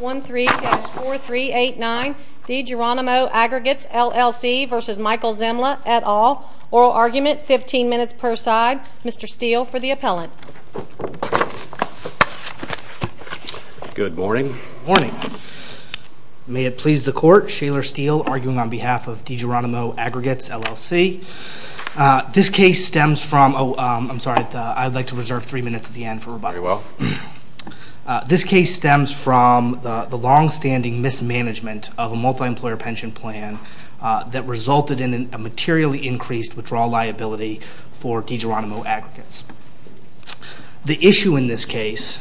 13-4389 Digeronimo Aggregates LLC v. Michael Zemla et al. Oral argument, 15 minutes per side. Mr. Steele for the appellant. Good morning. Good morning. May it please the court, Shaler Steele arguing on behalf of Digeronimo Aggregates LLC. This case stems from, oh, I'm sorry, I'd like to reserve three minutes at the end for rebuttal. Very well. This case stems from the longstanding mismanagement of a multi-employer pension plan that resulted in a materially increased withdrawal liability for Digeronimo Aggregates. The issue in this case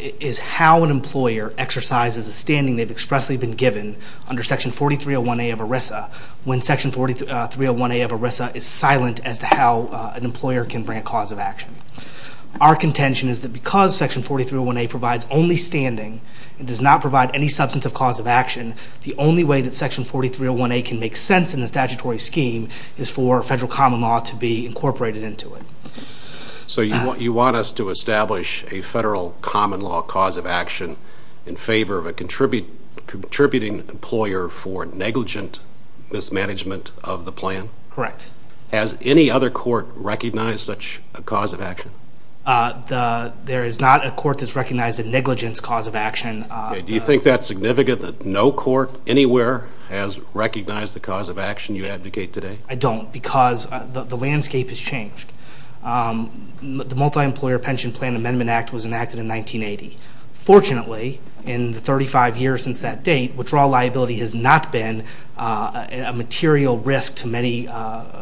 is how an employer exercises a standing they've expressly been given under Section 4301A of ERISA when Section 4301A of ERISA is silent as to how an employer can bring a cause of action. Our contention is that because Section 4301A provides only standing and does not provide any substantive cause of action, the only way that Section 4301A can make sense in the statutory scheme is for federal common law to be incorporated into it. So you want us to establish a federal common law cause of action in favor of a contributing employer for negligent mismanagement of the plan? Correct. Has any other court recognized such a cause of action? There is not a court that's recognized a negligence cause of action. Do you think that's significant that no court anywhere has recognized the cause of action you abdicate today? I don't because the landscape has changed. The Multi-Employer Pension Plan Amendment Act was enacted in 1980. Fortunately, in the 35 years since that date, withdrawal liability has not been a material risk to many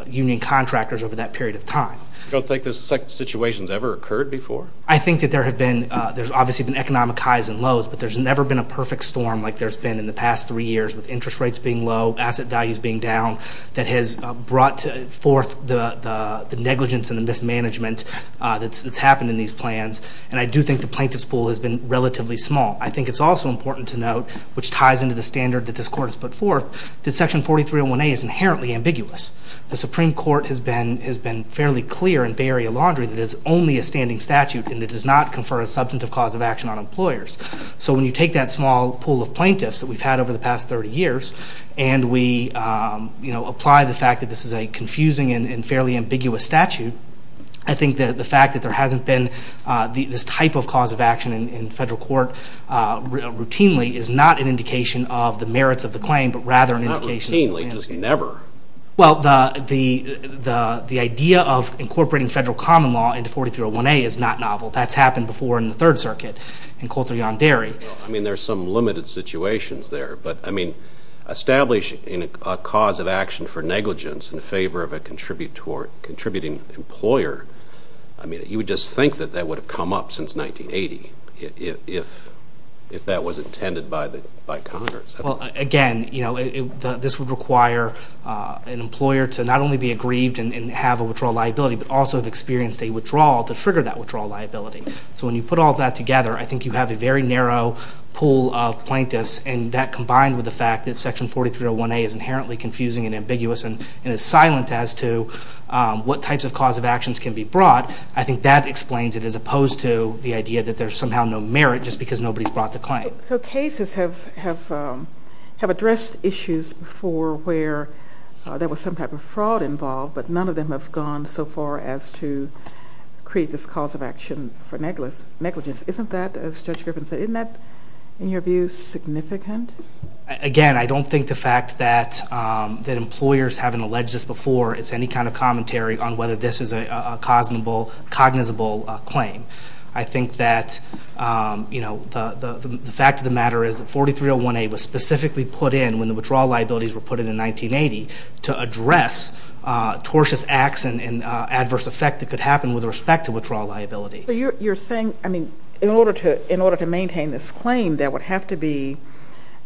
union contractors over that period of time. You don't think this situation has ever occurred before? I think that there's obviously been economic highs and lows, but there's never been a perfect storm like there's been in the past three years with interest rates being low, asset values being down, that has brought forth the negligence and the mismanagement that's happened in these plans. And I do think the plaintiff's pool has been relatively small. I think it's also important to note, which ties into the standard that this court has put forth, that Section 4301A is inherently ambiguous. The Supreme Court has been fairly clear in Bay Area Laundry that it is only a standing statute and it does not confer a substantive cause of action on employers. So when you take that small pool of plaintiffs that we've had over the past 30 years and we apply the fact that this is a confusing and fairly ambiguous statute, I think that the fact that there hasn't been this type of cause of action in federal court routinely is not an indication of the merits of the claim, but rather an indication... Not routinely, just never. Well, the idea of incorporating federal common law into 4301A is not novel. That's happened before in the Third Circuit in Coulthard v. Derry. I mean, there's some limited situations there. But, I mean, establishing a cause of action for negligence in favor of a contributing employer, I mean, you would just think that that would have come up since 1980 if that was intended by Congress. Well, again, this would require an employer to not only be aggrieved and have a withdrawal liability, but also have experienced a withdrawal to trigger that withdrawal liability. So when you put all that together, I think you have a very narrow pool of plaintiffs and that combined with the fact that Section 4301A is inherently confusing and ambiguous and is silent as to what types of cause of actions can be brought, I think that explains it as opposed to the idea that there's somehow no merit just because nobody's brought the claim. So cases have addressed issues for where there was some type of fraud involved, but none of them have gone so far as to create this cause of action for negligence. Isn't that, as Judge Griffin said, isn't that, in your view, significant? Again, I don't think the fact that employers haven't alleged this before is any kind of commentary on whether this is a cognizable claim. I think that the fact of the matter is that 4301A was specifically put in when the withdrawal liabilities were put in in 1980 to address tortuous acts and adverse effect that could happen with respect to withdrawal liability. So you're saying, I mean, in order to maintain this claim, there would have to be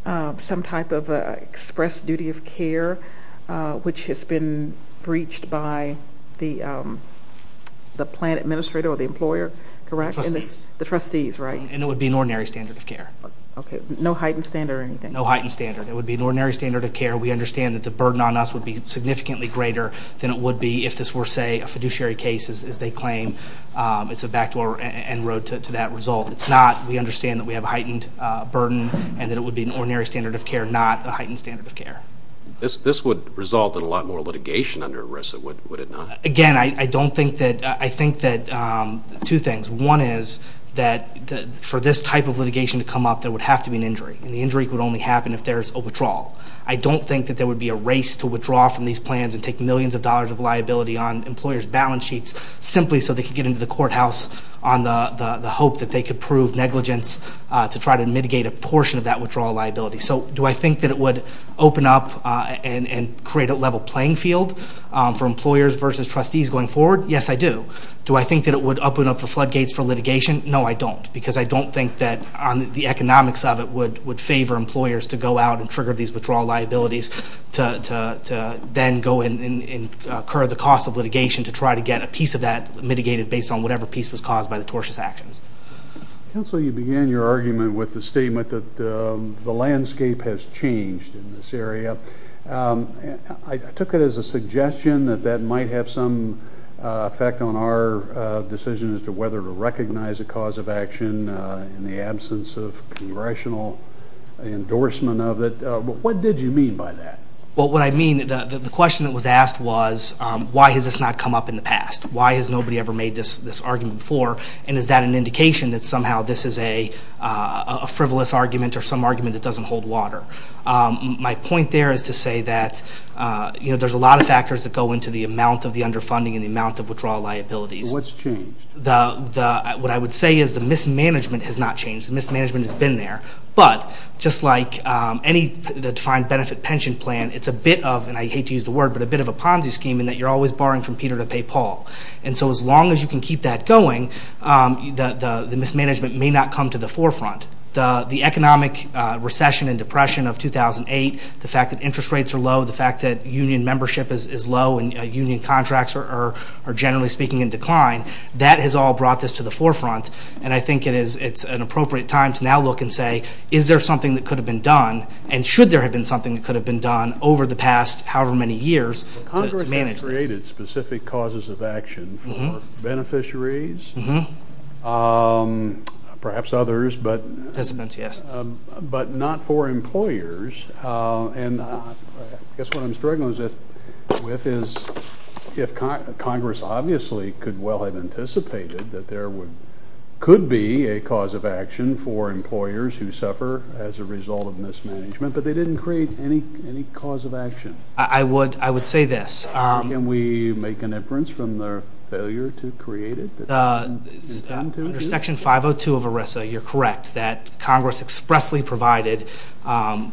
some type of express duty of care which has been breached by the plan administrator or the employer, correct? Trustees. The trustees, right? And it would be an ordinary standard of care. Okay. No heightened standard or anything? No heightened standard. It would be an ordinary standard of care. We understand that the burden on us would be significantly greater than it would be if this were, say, a fiduciary case, as they claim. It's a back door and road to that result. It's not. We understand that we have a heightened burden and that it would be an ordinary standard of care, not a heightened standard of care. This would result in a lot more litigation under ERISA, would it not? Again, I think that two things. One is that for this type of litigation to come up, there would have to be an injury, and the injury would only happen if there's a withdrawal. I don't think that there would be a race to withdraw from these plans and take millions of dollars of liability on employers' balance sheets simply so they could get into the courthouse on the hope that they could prove negligence to try to mitigate a portion of that withdrawal liability. So do I think that it would open up and create a level playing field for employers versus trustees going forward? Yes, I do. Do I think that it would open up the floodgates for litigation? No, I don't, because I don't think that the economics of it would favor employers to go out and trigger these withdrawal liabilities to then go and incur the cost of litigation to try to get a piece of that mitigated based on whatever piece was caused by the tortious actions. Counsel, you began your argument with the statement that the landscape has changed in this area. I took it as a suggestion that that might have some effect on our decision as to whether to recognize a cause of action in the absence of congressional endorsement of it. What did you mean by that? What I mean, the question that was asked was, why has this not come up in the past? Why has nobody ever made this argument before, and is that an indication that somehow this is a frivolous argument or some argument that doesn't hold water? My point there is to say that there's a lot of factors that go into the amount of the underfunding and the amount of withdrawal liabilities. What's changed? What I would say is the mismanagement has not changed. The mismanagement has been there. But just like any defined benefit pension plan, it's a bit of, and I hate to use the word, but a bit of a Ponzi scheme in that you're always borrowing from Peter to pay Paul. And so as long as you can keep that going, the mismanagement may not come to the forefront. The economic recession and depression of 2008, the fact that interest rates are low, the fact that union membership is low and union contracts are, generally speaking, in decline, that has all brought this to the forefront. And I think it is an appropriate time to now look and say, is there something that could have been done and should there have been something that could have been done over the past however many years to manage this? Congress has created specific causes of action for beneficiaries, perhaps others, but not for employers. And I guess what I'm struggling with is if Congress obviously could well have anticipated that there could be a cause of action for employers who suffer as a result of mismanagement, but they didn't create any cause of action. I would say this. Can we make an inference from their failure to create it that they didn't intend to? Under Section 502 of ERISA, you're correct, that Congress expressly provided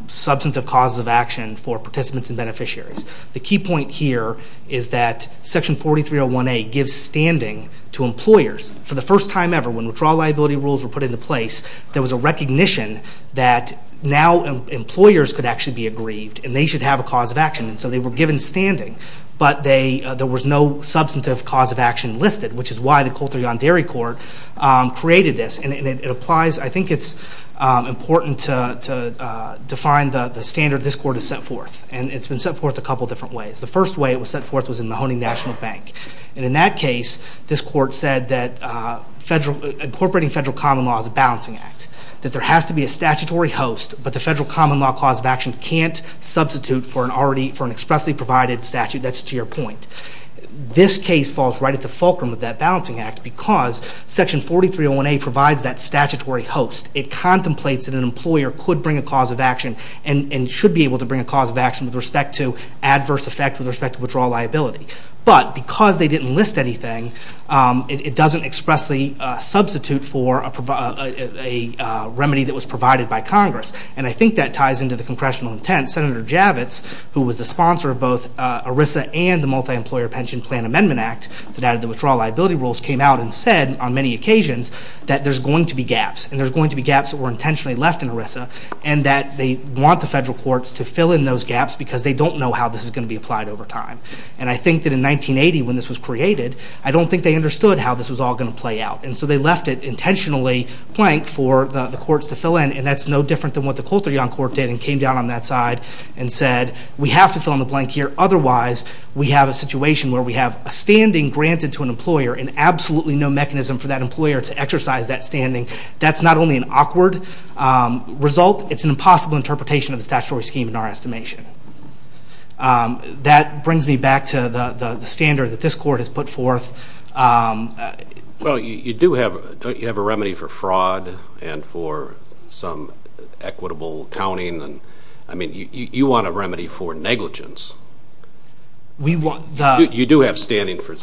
substantive causes of action for participants and beneficiaries. The key point here is that Section 4301A gives standing to employers. For the first time ever, when withdrawal liability rules were put into place, there was a recognition that now employers could actually be aggrieved and they should have a cause of action. And so they were given standing, but there was no substantive cause of action listed, which is why the Coulter-Yonderi Court created this. And it applies. I think it's important to define the standard this court has set forth. And it's been set forth a couple different ways. The first way it was set forth was in Mahoning National Bank. And in that case, this court said that incorporating federal common law is a balancing act, that there has to be a statutory host, but the federal common law cause of action can't substitute for an expressly provided statute. That's to your point. This case falls right at the fulcrum of that balancing act because Section 4301A provides that statutory host. It contemplates that an employer could bring a cause of action and should be able to bring a cause of action with respect to adverse effect with respect to withdrawal liability. But because they didn't list anything, it doesn't expressly substitute for a remedy that was provided by Congress. And I think that ties into the congressional intent. Senator Javits, who was the sponsor of both ERISA and the Multi-Employer Pension Plan Amendment Act that added the withdrawal liability rules, came out and said on many occasions that there's going to be gaps and there's going to be gaps that were intentionally left in ERISA and that they want the federal courts to fill in those gaps because they don't know how this is going to be applied over time. And I think that in 1980, when this was created, I don't think they understood how this was all going to play out. And so they left it intentionally blank for the courts to fill in, and that's no different than what the Coulter-Young court did and came down on that side and said, we have to fill in the blank here, otherwise we have a situation where we have a standing granted to an employer and absolutely no mechanism for that employer to exercise that standing. That's not only an awkward result, it's an impossible interpretation of the statutory scheme in our estimation. That brings me back to the standard that this court has put forth. Well, you do have a remedy for fraud and for some equitable accounting. I mean, you want a remedy for negligence. You do have standing for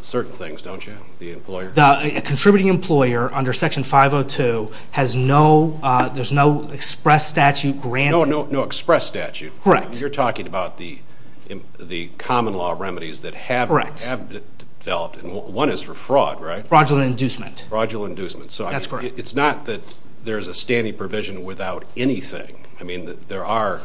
certain things, don't you, the employer? A contributing employer under Section 502 has no express statute granted. No express statute. Correct. You're talking about the common law remedies that have developed. One is for fraud, right? Fraudulent inducement. Fraudulent inducement. That's correct. It's not that there's a standing provision without anything. I mean, there are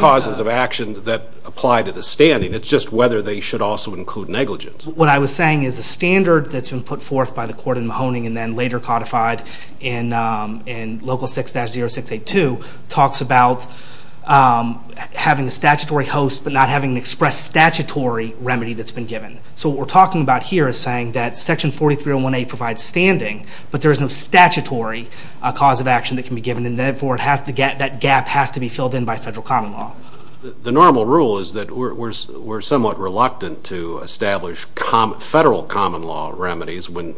causes of action that apply to the standing. It's just whether they should also include negligence. What I was saying is the standard that's been put forth by the court in Mahoning and then later codified in Local 6-0682 talks about having a statutory host but not having an express statutory remedy that's been given. So what we're talking about here is saying that Section 4301A provides standing, but there is no statutory cause of action that can be given, and therefore that gap has to be filled in by federal common law. The normal rule is that we're somewhat reluctant to establish federal common law remedies when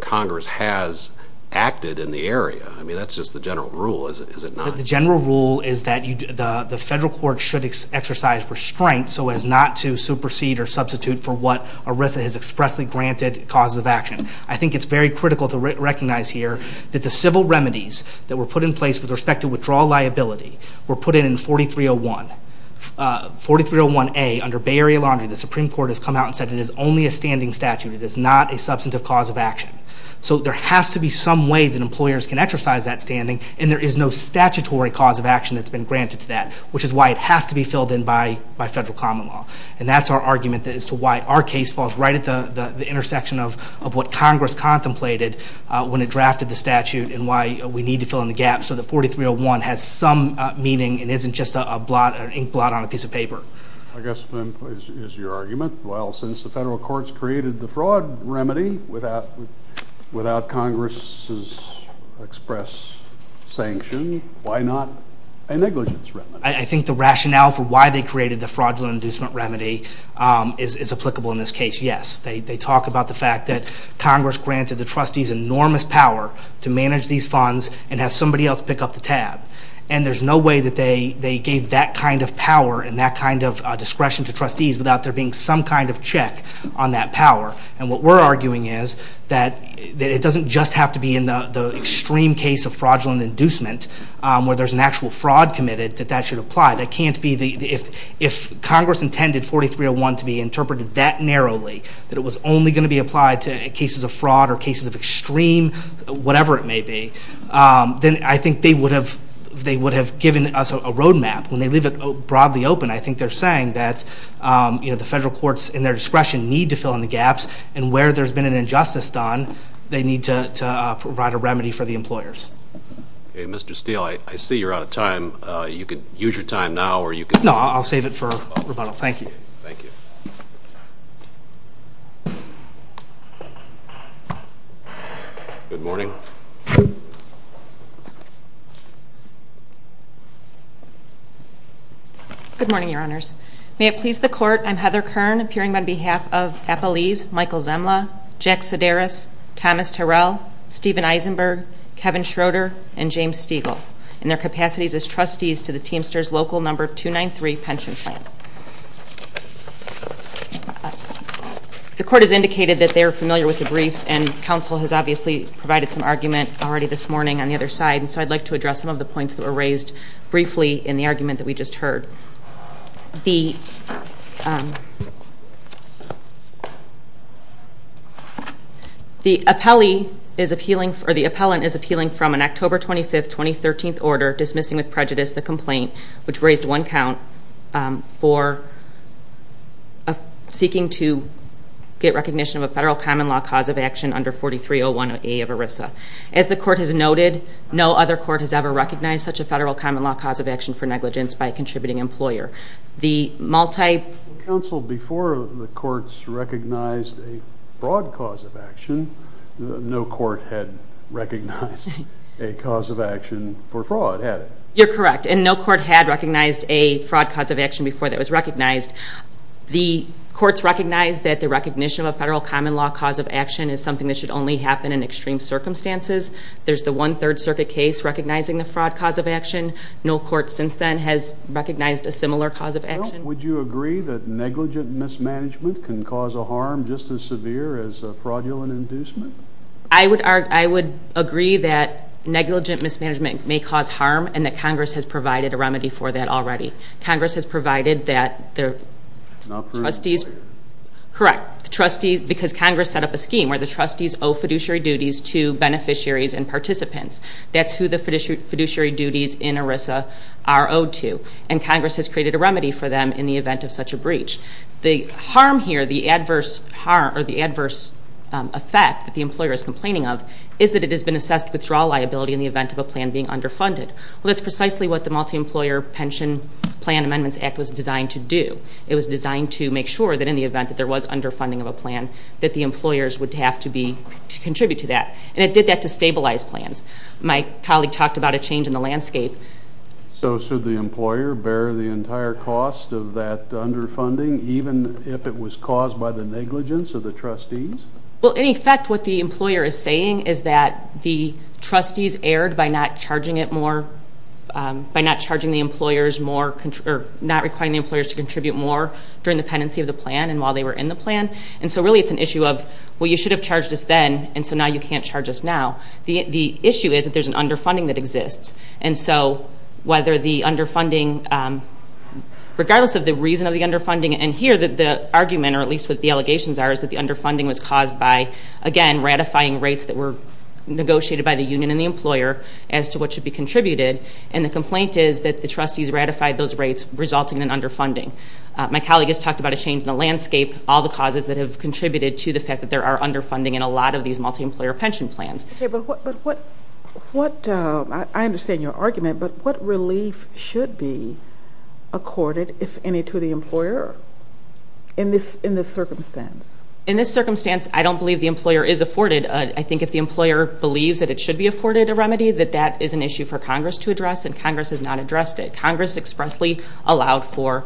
Congress has acted in the area. I mean, that's just the general rule, is it not? The general rule is that the federal court should exercise restraint so as not to supersede or substitute for what ERISA has expressly granted causes of action. I think it's very critical to recognize here that the civil remedies that were put in place with respect to withdrawal liability were put in 4301A under Bay Area Laundry. The Supreme Court has come out and said it is only a standing statute. It is not a substantive cause of action. So there has to be some way that employers can exercise that standing, and there is no statutory cause of action that's been granted to that, which is why it has to be filled in by federal common law. And that's our argument as to why our case falls right at the intersection of what Congress contemplated when it drafted the statute and why we need to fill in the gap so that 4301 has some meaning and isn't just an inkblot on a piece of paper. I guess then is your argument, well, since the federal courts created the fraud remedy without Congress's express sanction, why not a negligence remedy? I think the rationale for why they created the fraudulent inducement remedy is applicable in this case, yes. They talk about the fact that Congress granted the trustees enormous power to manage these funds and have somebody else pick up the tab. And there's no way that they gave that kind of power and that kind of discretion to trustees without there being some kind of check on that power. And what we're arguing is that it doesn't just have to be in the extreme case of fraudulent inducement where there's an actual fraud committed, that that should apply. If Congress intended 4301 to be interpreted that narrowly, that it was only going to be applied to cases of fraud or cases of extreme, whatever it may be, then I think they would have given us a road map. When they leave it broadly open, I think they're saying that the federal courts in their discretion need to fill in the gaps and where there's been an injustice done, they need to provide a remedy for the employers. Okay, Mr. Steele, I see you're out of time. You could use your time now or you could... No, I'll save it for rebuttal. Thank you. Thank you. Good morning. Good morning, Your Honors. May it please the Court, I'm Heather Kern, appearing on behalf of Appalese, Michael Zemla, Jack Sedaris, Thomas Terrell, Stephen Eisenberg, Kevin Schroeder, and James Stiegel in their capacities as trustees to the Teamsters Local No. 293 Pension Plan. The Court has indicated that they are familiar with the briefs, and counsel has obviously provided some argument already this morning on the other side, and so I'd like to address some of the points that were raised briefly in the argument that we just heard. The appellant is appealing from an October 25, 2013 order dismissing with prejudice the complaint, which raised one count for seeking to get recognition of a federal common law cause of action under 4301A of ERISA. As the Court has noted, no other court has ever recognized such a federal common law cause of action for negligence by a contributing employer. The multi- Counsel, before the courts recognized a fraud cause of action, no court had recognized a cause of action for fraud, had it? You're correct, and no court had recognized a fraud cause of action before that was recognized. The courts recognized that the recognition of a federal common law cause of action is something that should only happen in extreme circumstances. No court since then has recognized a similar cause of action. Well, would you agree that negligent mismanagement can cause a harm just as severe as a fraudulent inducement? I would agree that negligent mismanagement may cause harm, and that Congress has provided a remedy for that already. Congress has provided that the trustees... Not for an employer. Correct. Because Congress set up a scheme where the trustees owe fiduciary duties to beneficiaries and participants. That's who the fiduciary duties in ERISA are owed to, and Congress has created a remedy for them in the event of such a breach. The harm here, the adverse effect that the employer is complaining of, is that it has been assessed withdrawal liability in the event of a plan being underfunded. Well, that's precisely what the Multi-Employer Pension Plan Amendments Act was designed to do. It was designed to make sure that in the event that there was underfunding of a plan, that the employers would have to contribute to that. And it did that to stabilize plans. My colleague talked about a change in the landscape. So should the employer bear the entire cost of that underfunding, even if it was caused by the negligence of the trustees? Well, in effect, what the employer is saying is that the trustees erred by not charging the employers more, or not requiring the employers to contribute more during the pendency of the plan and while they were in the plan. And so really it's an issue of, well, you should have charged us then, and so now you can't charge us now. The issue is that there's an underfunding that exists. And so whether the underfunding, regardless of the reason of the underfunding, and here the argument, or at least what the allegations are, is that the underfunding was caused by, again, ratifying rates that were negotiated by the union and the employer as to what should be contributed. And the complaint is that the trustees ratified those rates, resulting in underfunding. My colleague has talked about a change in the landscape, all the causes that have contributed to the fact that there are underfunding in a lot of these multi-employer pension plans. Okay, but what – I understand your argument, but what relief should be accorded, if any, to the employer in this circumstance? In this circumstance, I don't believe the employer is afforded. I think if the employer believes that it should be afforded a remedy, that that is an issue for Congress to address, and Congress has not addressed it. Congress expressly allowed for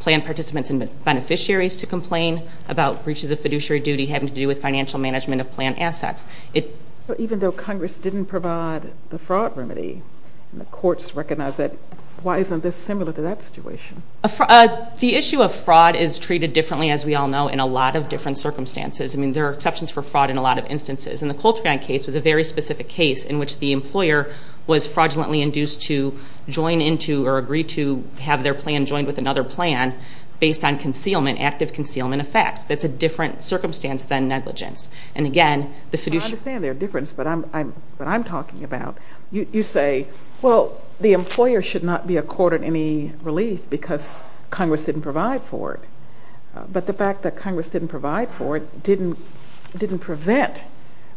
plan participants and beneficiaries to complain about breaches of fiduciary duty having to do with financial management of plan assets. Even though Congress didn't provide the fraud remedy, and the courts recognize that, why isn't this similar to that situation? The issue of fraud is treated differently, as we all know, in a lot of different circumstances. I mean, there are exceptions for fraud in a lot of instances. And the Coltrane case was a very specific case in which the employer was fraudulently induced to join into or agree to have their plan joined with another plan based on concealment, active concealment effects. That's a different circumstance than negligence. And, again, the fiduciary – I understand their difference, but I'm talking about – you say, well, the employer should not be accorded any relief because Congress didn't provide for it. But the fact that Congress didn't provide for it didn't prevent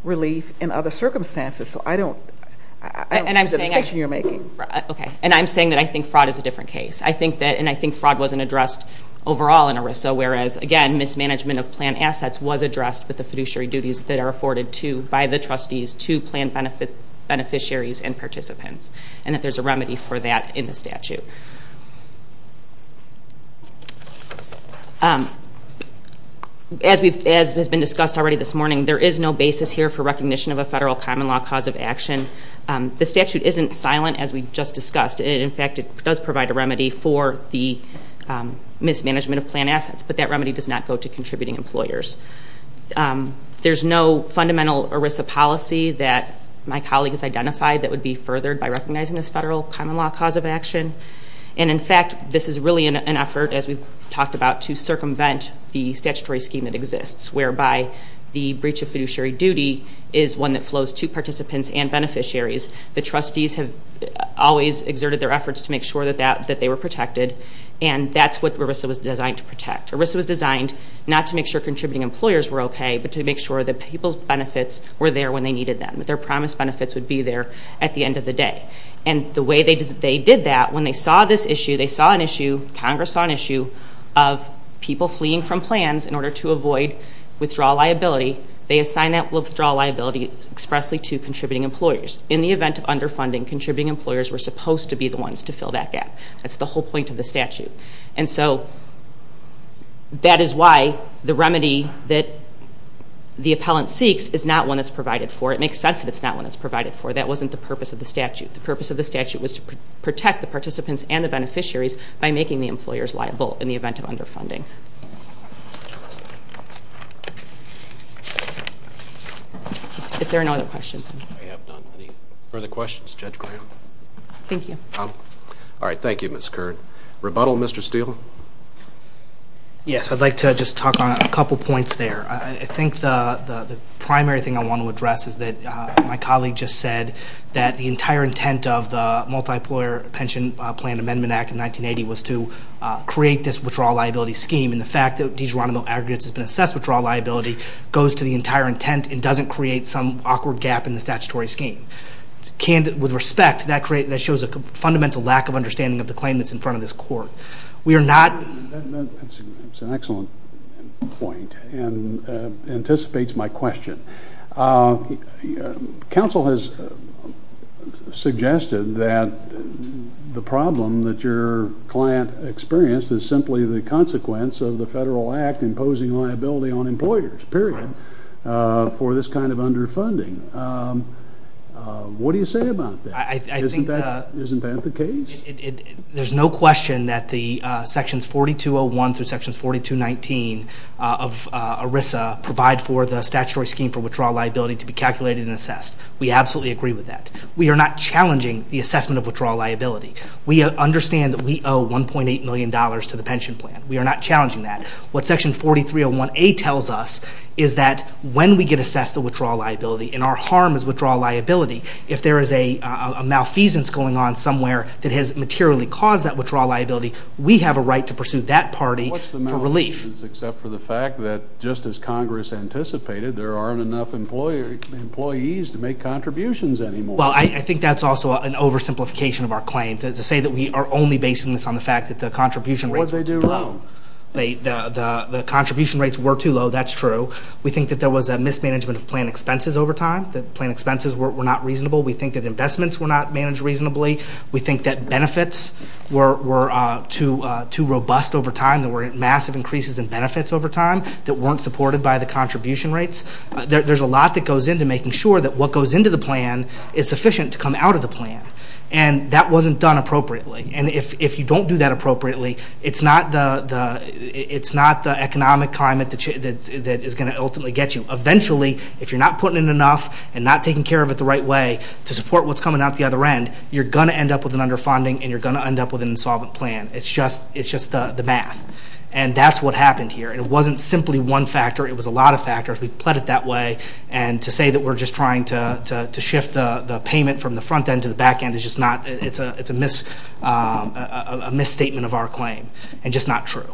relief in other circumstances. So I don't see the distinction you're making. Okay. And I'm saying that I think fraud is a different case. I think that – and I think fraud wasn't addressed overall in ERISA, whereas, again, mismanagement of plan assets was addressed with the fiduciary duties that are afforded to – by the trustees to plan beneficiaries and participants, and that there's a remedy for that in the statute. As has been discussed already this morning, there is no basis here for recognition of a federal common law cause of action. The statute isn't silent, as we just discussed. In fact, it does provide a remedy for the mismanagement of plan assets, but that remedy does not go to contributing employers. There's no fundamental ERISA policy that my colleagues identified that would be furthered by recognizing this federal common law cause of action. And, in fact, this is really an effort, as we've talked about, to circumvent the statutory scheme that exists, whereby the breach of fiduciary duty is one that flows to participants and beneficiaries. The trustees have always exerted their efforts to make sure that they were protected, and that's what ERISA was designed to protect. ERISA was designed not to make sure contributing employers were okay, but to make sure that people's benefits were there when they needed them, that their promised benefits would be there at the end of the day. And the way they did that, when they saw this issue, they saw an issue – people fleeing from plans in order to avoid withdrawal liability. They assigned that withdrawal liability expressly to contributing employers. In the event of underfunding, contributing employers were supposed to be the ones to fill that gap. That's the whole point of the statute. And so that is why the remedy that the appellant seeks is not one that's provided for. It makes sense that it's not one that's provided for. That wasn't the purpose of the statute. The purpose of the statute was to protect the participants and the beneficiaries by making the employers liable in the event of underfunding. If there are no other questions. I have none. Any further questions? Judge Graham? Thank you. All right. Thank you, Ms. Kern. Rebuttal, Mr. Steele? Yes, I'd like to just talk on a couple points there. I think the primary thing I want to address is that my colleague just said that the entire intent of the Multi-Employer Pension Plan Amendment Act in 1980 was to create this withdrawal liability scheme. And the fact that de juronimo aggregates has been assessed withdrawal liability goes to the entire intent and doesn't create some awkward gap in the statutory scheme. With respect, that shows a fundamental lack of understanding of the claim that's in front of this court. That's an excellent point and anticipates my question. Counsel has suggested that the problem that your client experienced is simply the consequence of the federal act imposing liability on employers, period, for this kind of underfunding. What do you say about that? Isn't that the case? There's no question that the sections 4201 through sections 4219 of ERISA provide for the statutory scheme for withdrawal liability to be calculated and assessed. We absolutely agree with that. We are not challenging the assessment of withdrawal liability. We understand that we owe $1.8 million to the pension plan. We are not challenging that. What section 4301A tells us is that when we get assessed the withdrawal liability and our harm is withdrawal liability, if there is a malfeasance going on somewhere that has materially caused that withdrawal liability, we have a right to pursue that party for relief. Except for the fact that just as Congress anticipated, there aren't enough employees to make contributions anymore. Well, I think that's also an oversimplification of our claim to say that we are only basing this on the fact that the contribution rates were too low. What did they do wrong? The contribution rates were too low. That's true. We think that there was a mismanagement of plan expenses over time, that plan expenses were not reasonable. We think that investments were not managed reasonably. We think that benefits were too robust over time. There were massive increases in benefits over time that weren't supported by the contribution rates. There's a lot that goes into making sure that what goes into the plan is sufficient to come out of the plan. And that wasn't done appropriately. And if you don't do that appropriately, it's not the economic climate that is going to ultimately get you. Eventually, if you're not putting in enough and not taking care of it the right way to support what's coming out the other end, you're going to end up with an underfunding and you're going to end up with an insolvent plan. It's just the math. And that's what happened here. And it wasn't simply one factor. It was a lot of factors. We pled it that way. And to say that we're just trying to shift the payment from the front end to the back end is just not – it's a misstatement of our claim and just not true.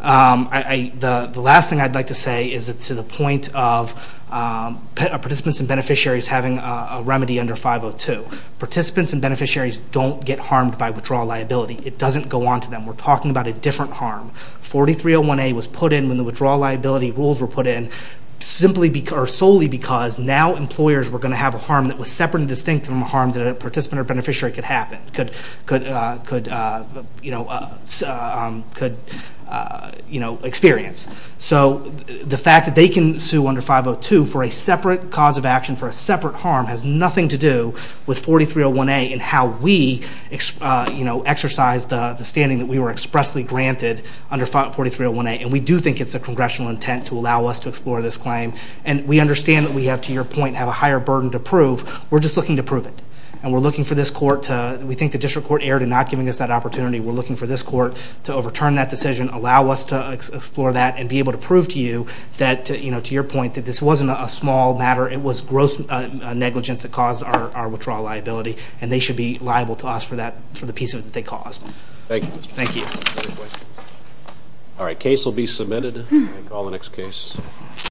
The last thing I'd like to say is to the point of participants and beneficiaries having a remedy under 502. Participants and beneficiaries don't get harmed by withdrawal liability. It doesn't go on to them. We're talking about a different harm. 4301A was put in when the withdrawal liability rules were put in solely because now employers were going to have a harm that was separate and distinct from a harm that a participant or beneficiary could experience. So the fact that they can sue under 502 for a separate cause of action for a separate harm has nothing to do with 4301A and how we exercise the standing that we were expressly granted under 4301A. And we do think it's a congressional intent to allow us to explore this claim. And we understand that we have, to your point, have a higher burden to prove. We're just looking to prove it. And we're looking for this court to – we think the district court erred in not giving us that opportunity. We're looking for this court to overturn that decision, allow us to explore that, and be able to prove to you that, to your point, that this wasn't a small matter. It was gross negligence that caused our withdrawal liability. And they should be liable to us for the piece of it that they caused. Thank you. Thank you. All right, case will be submitted. I'll call the next case.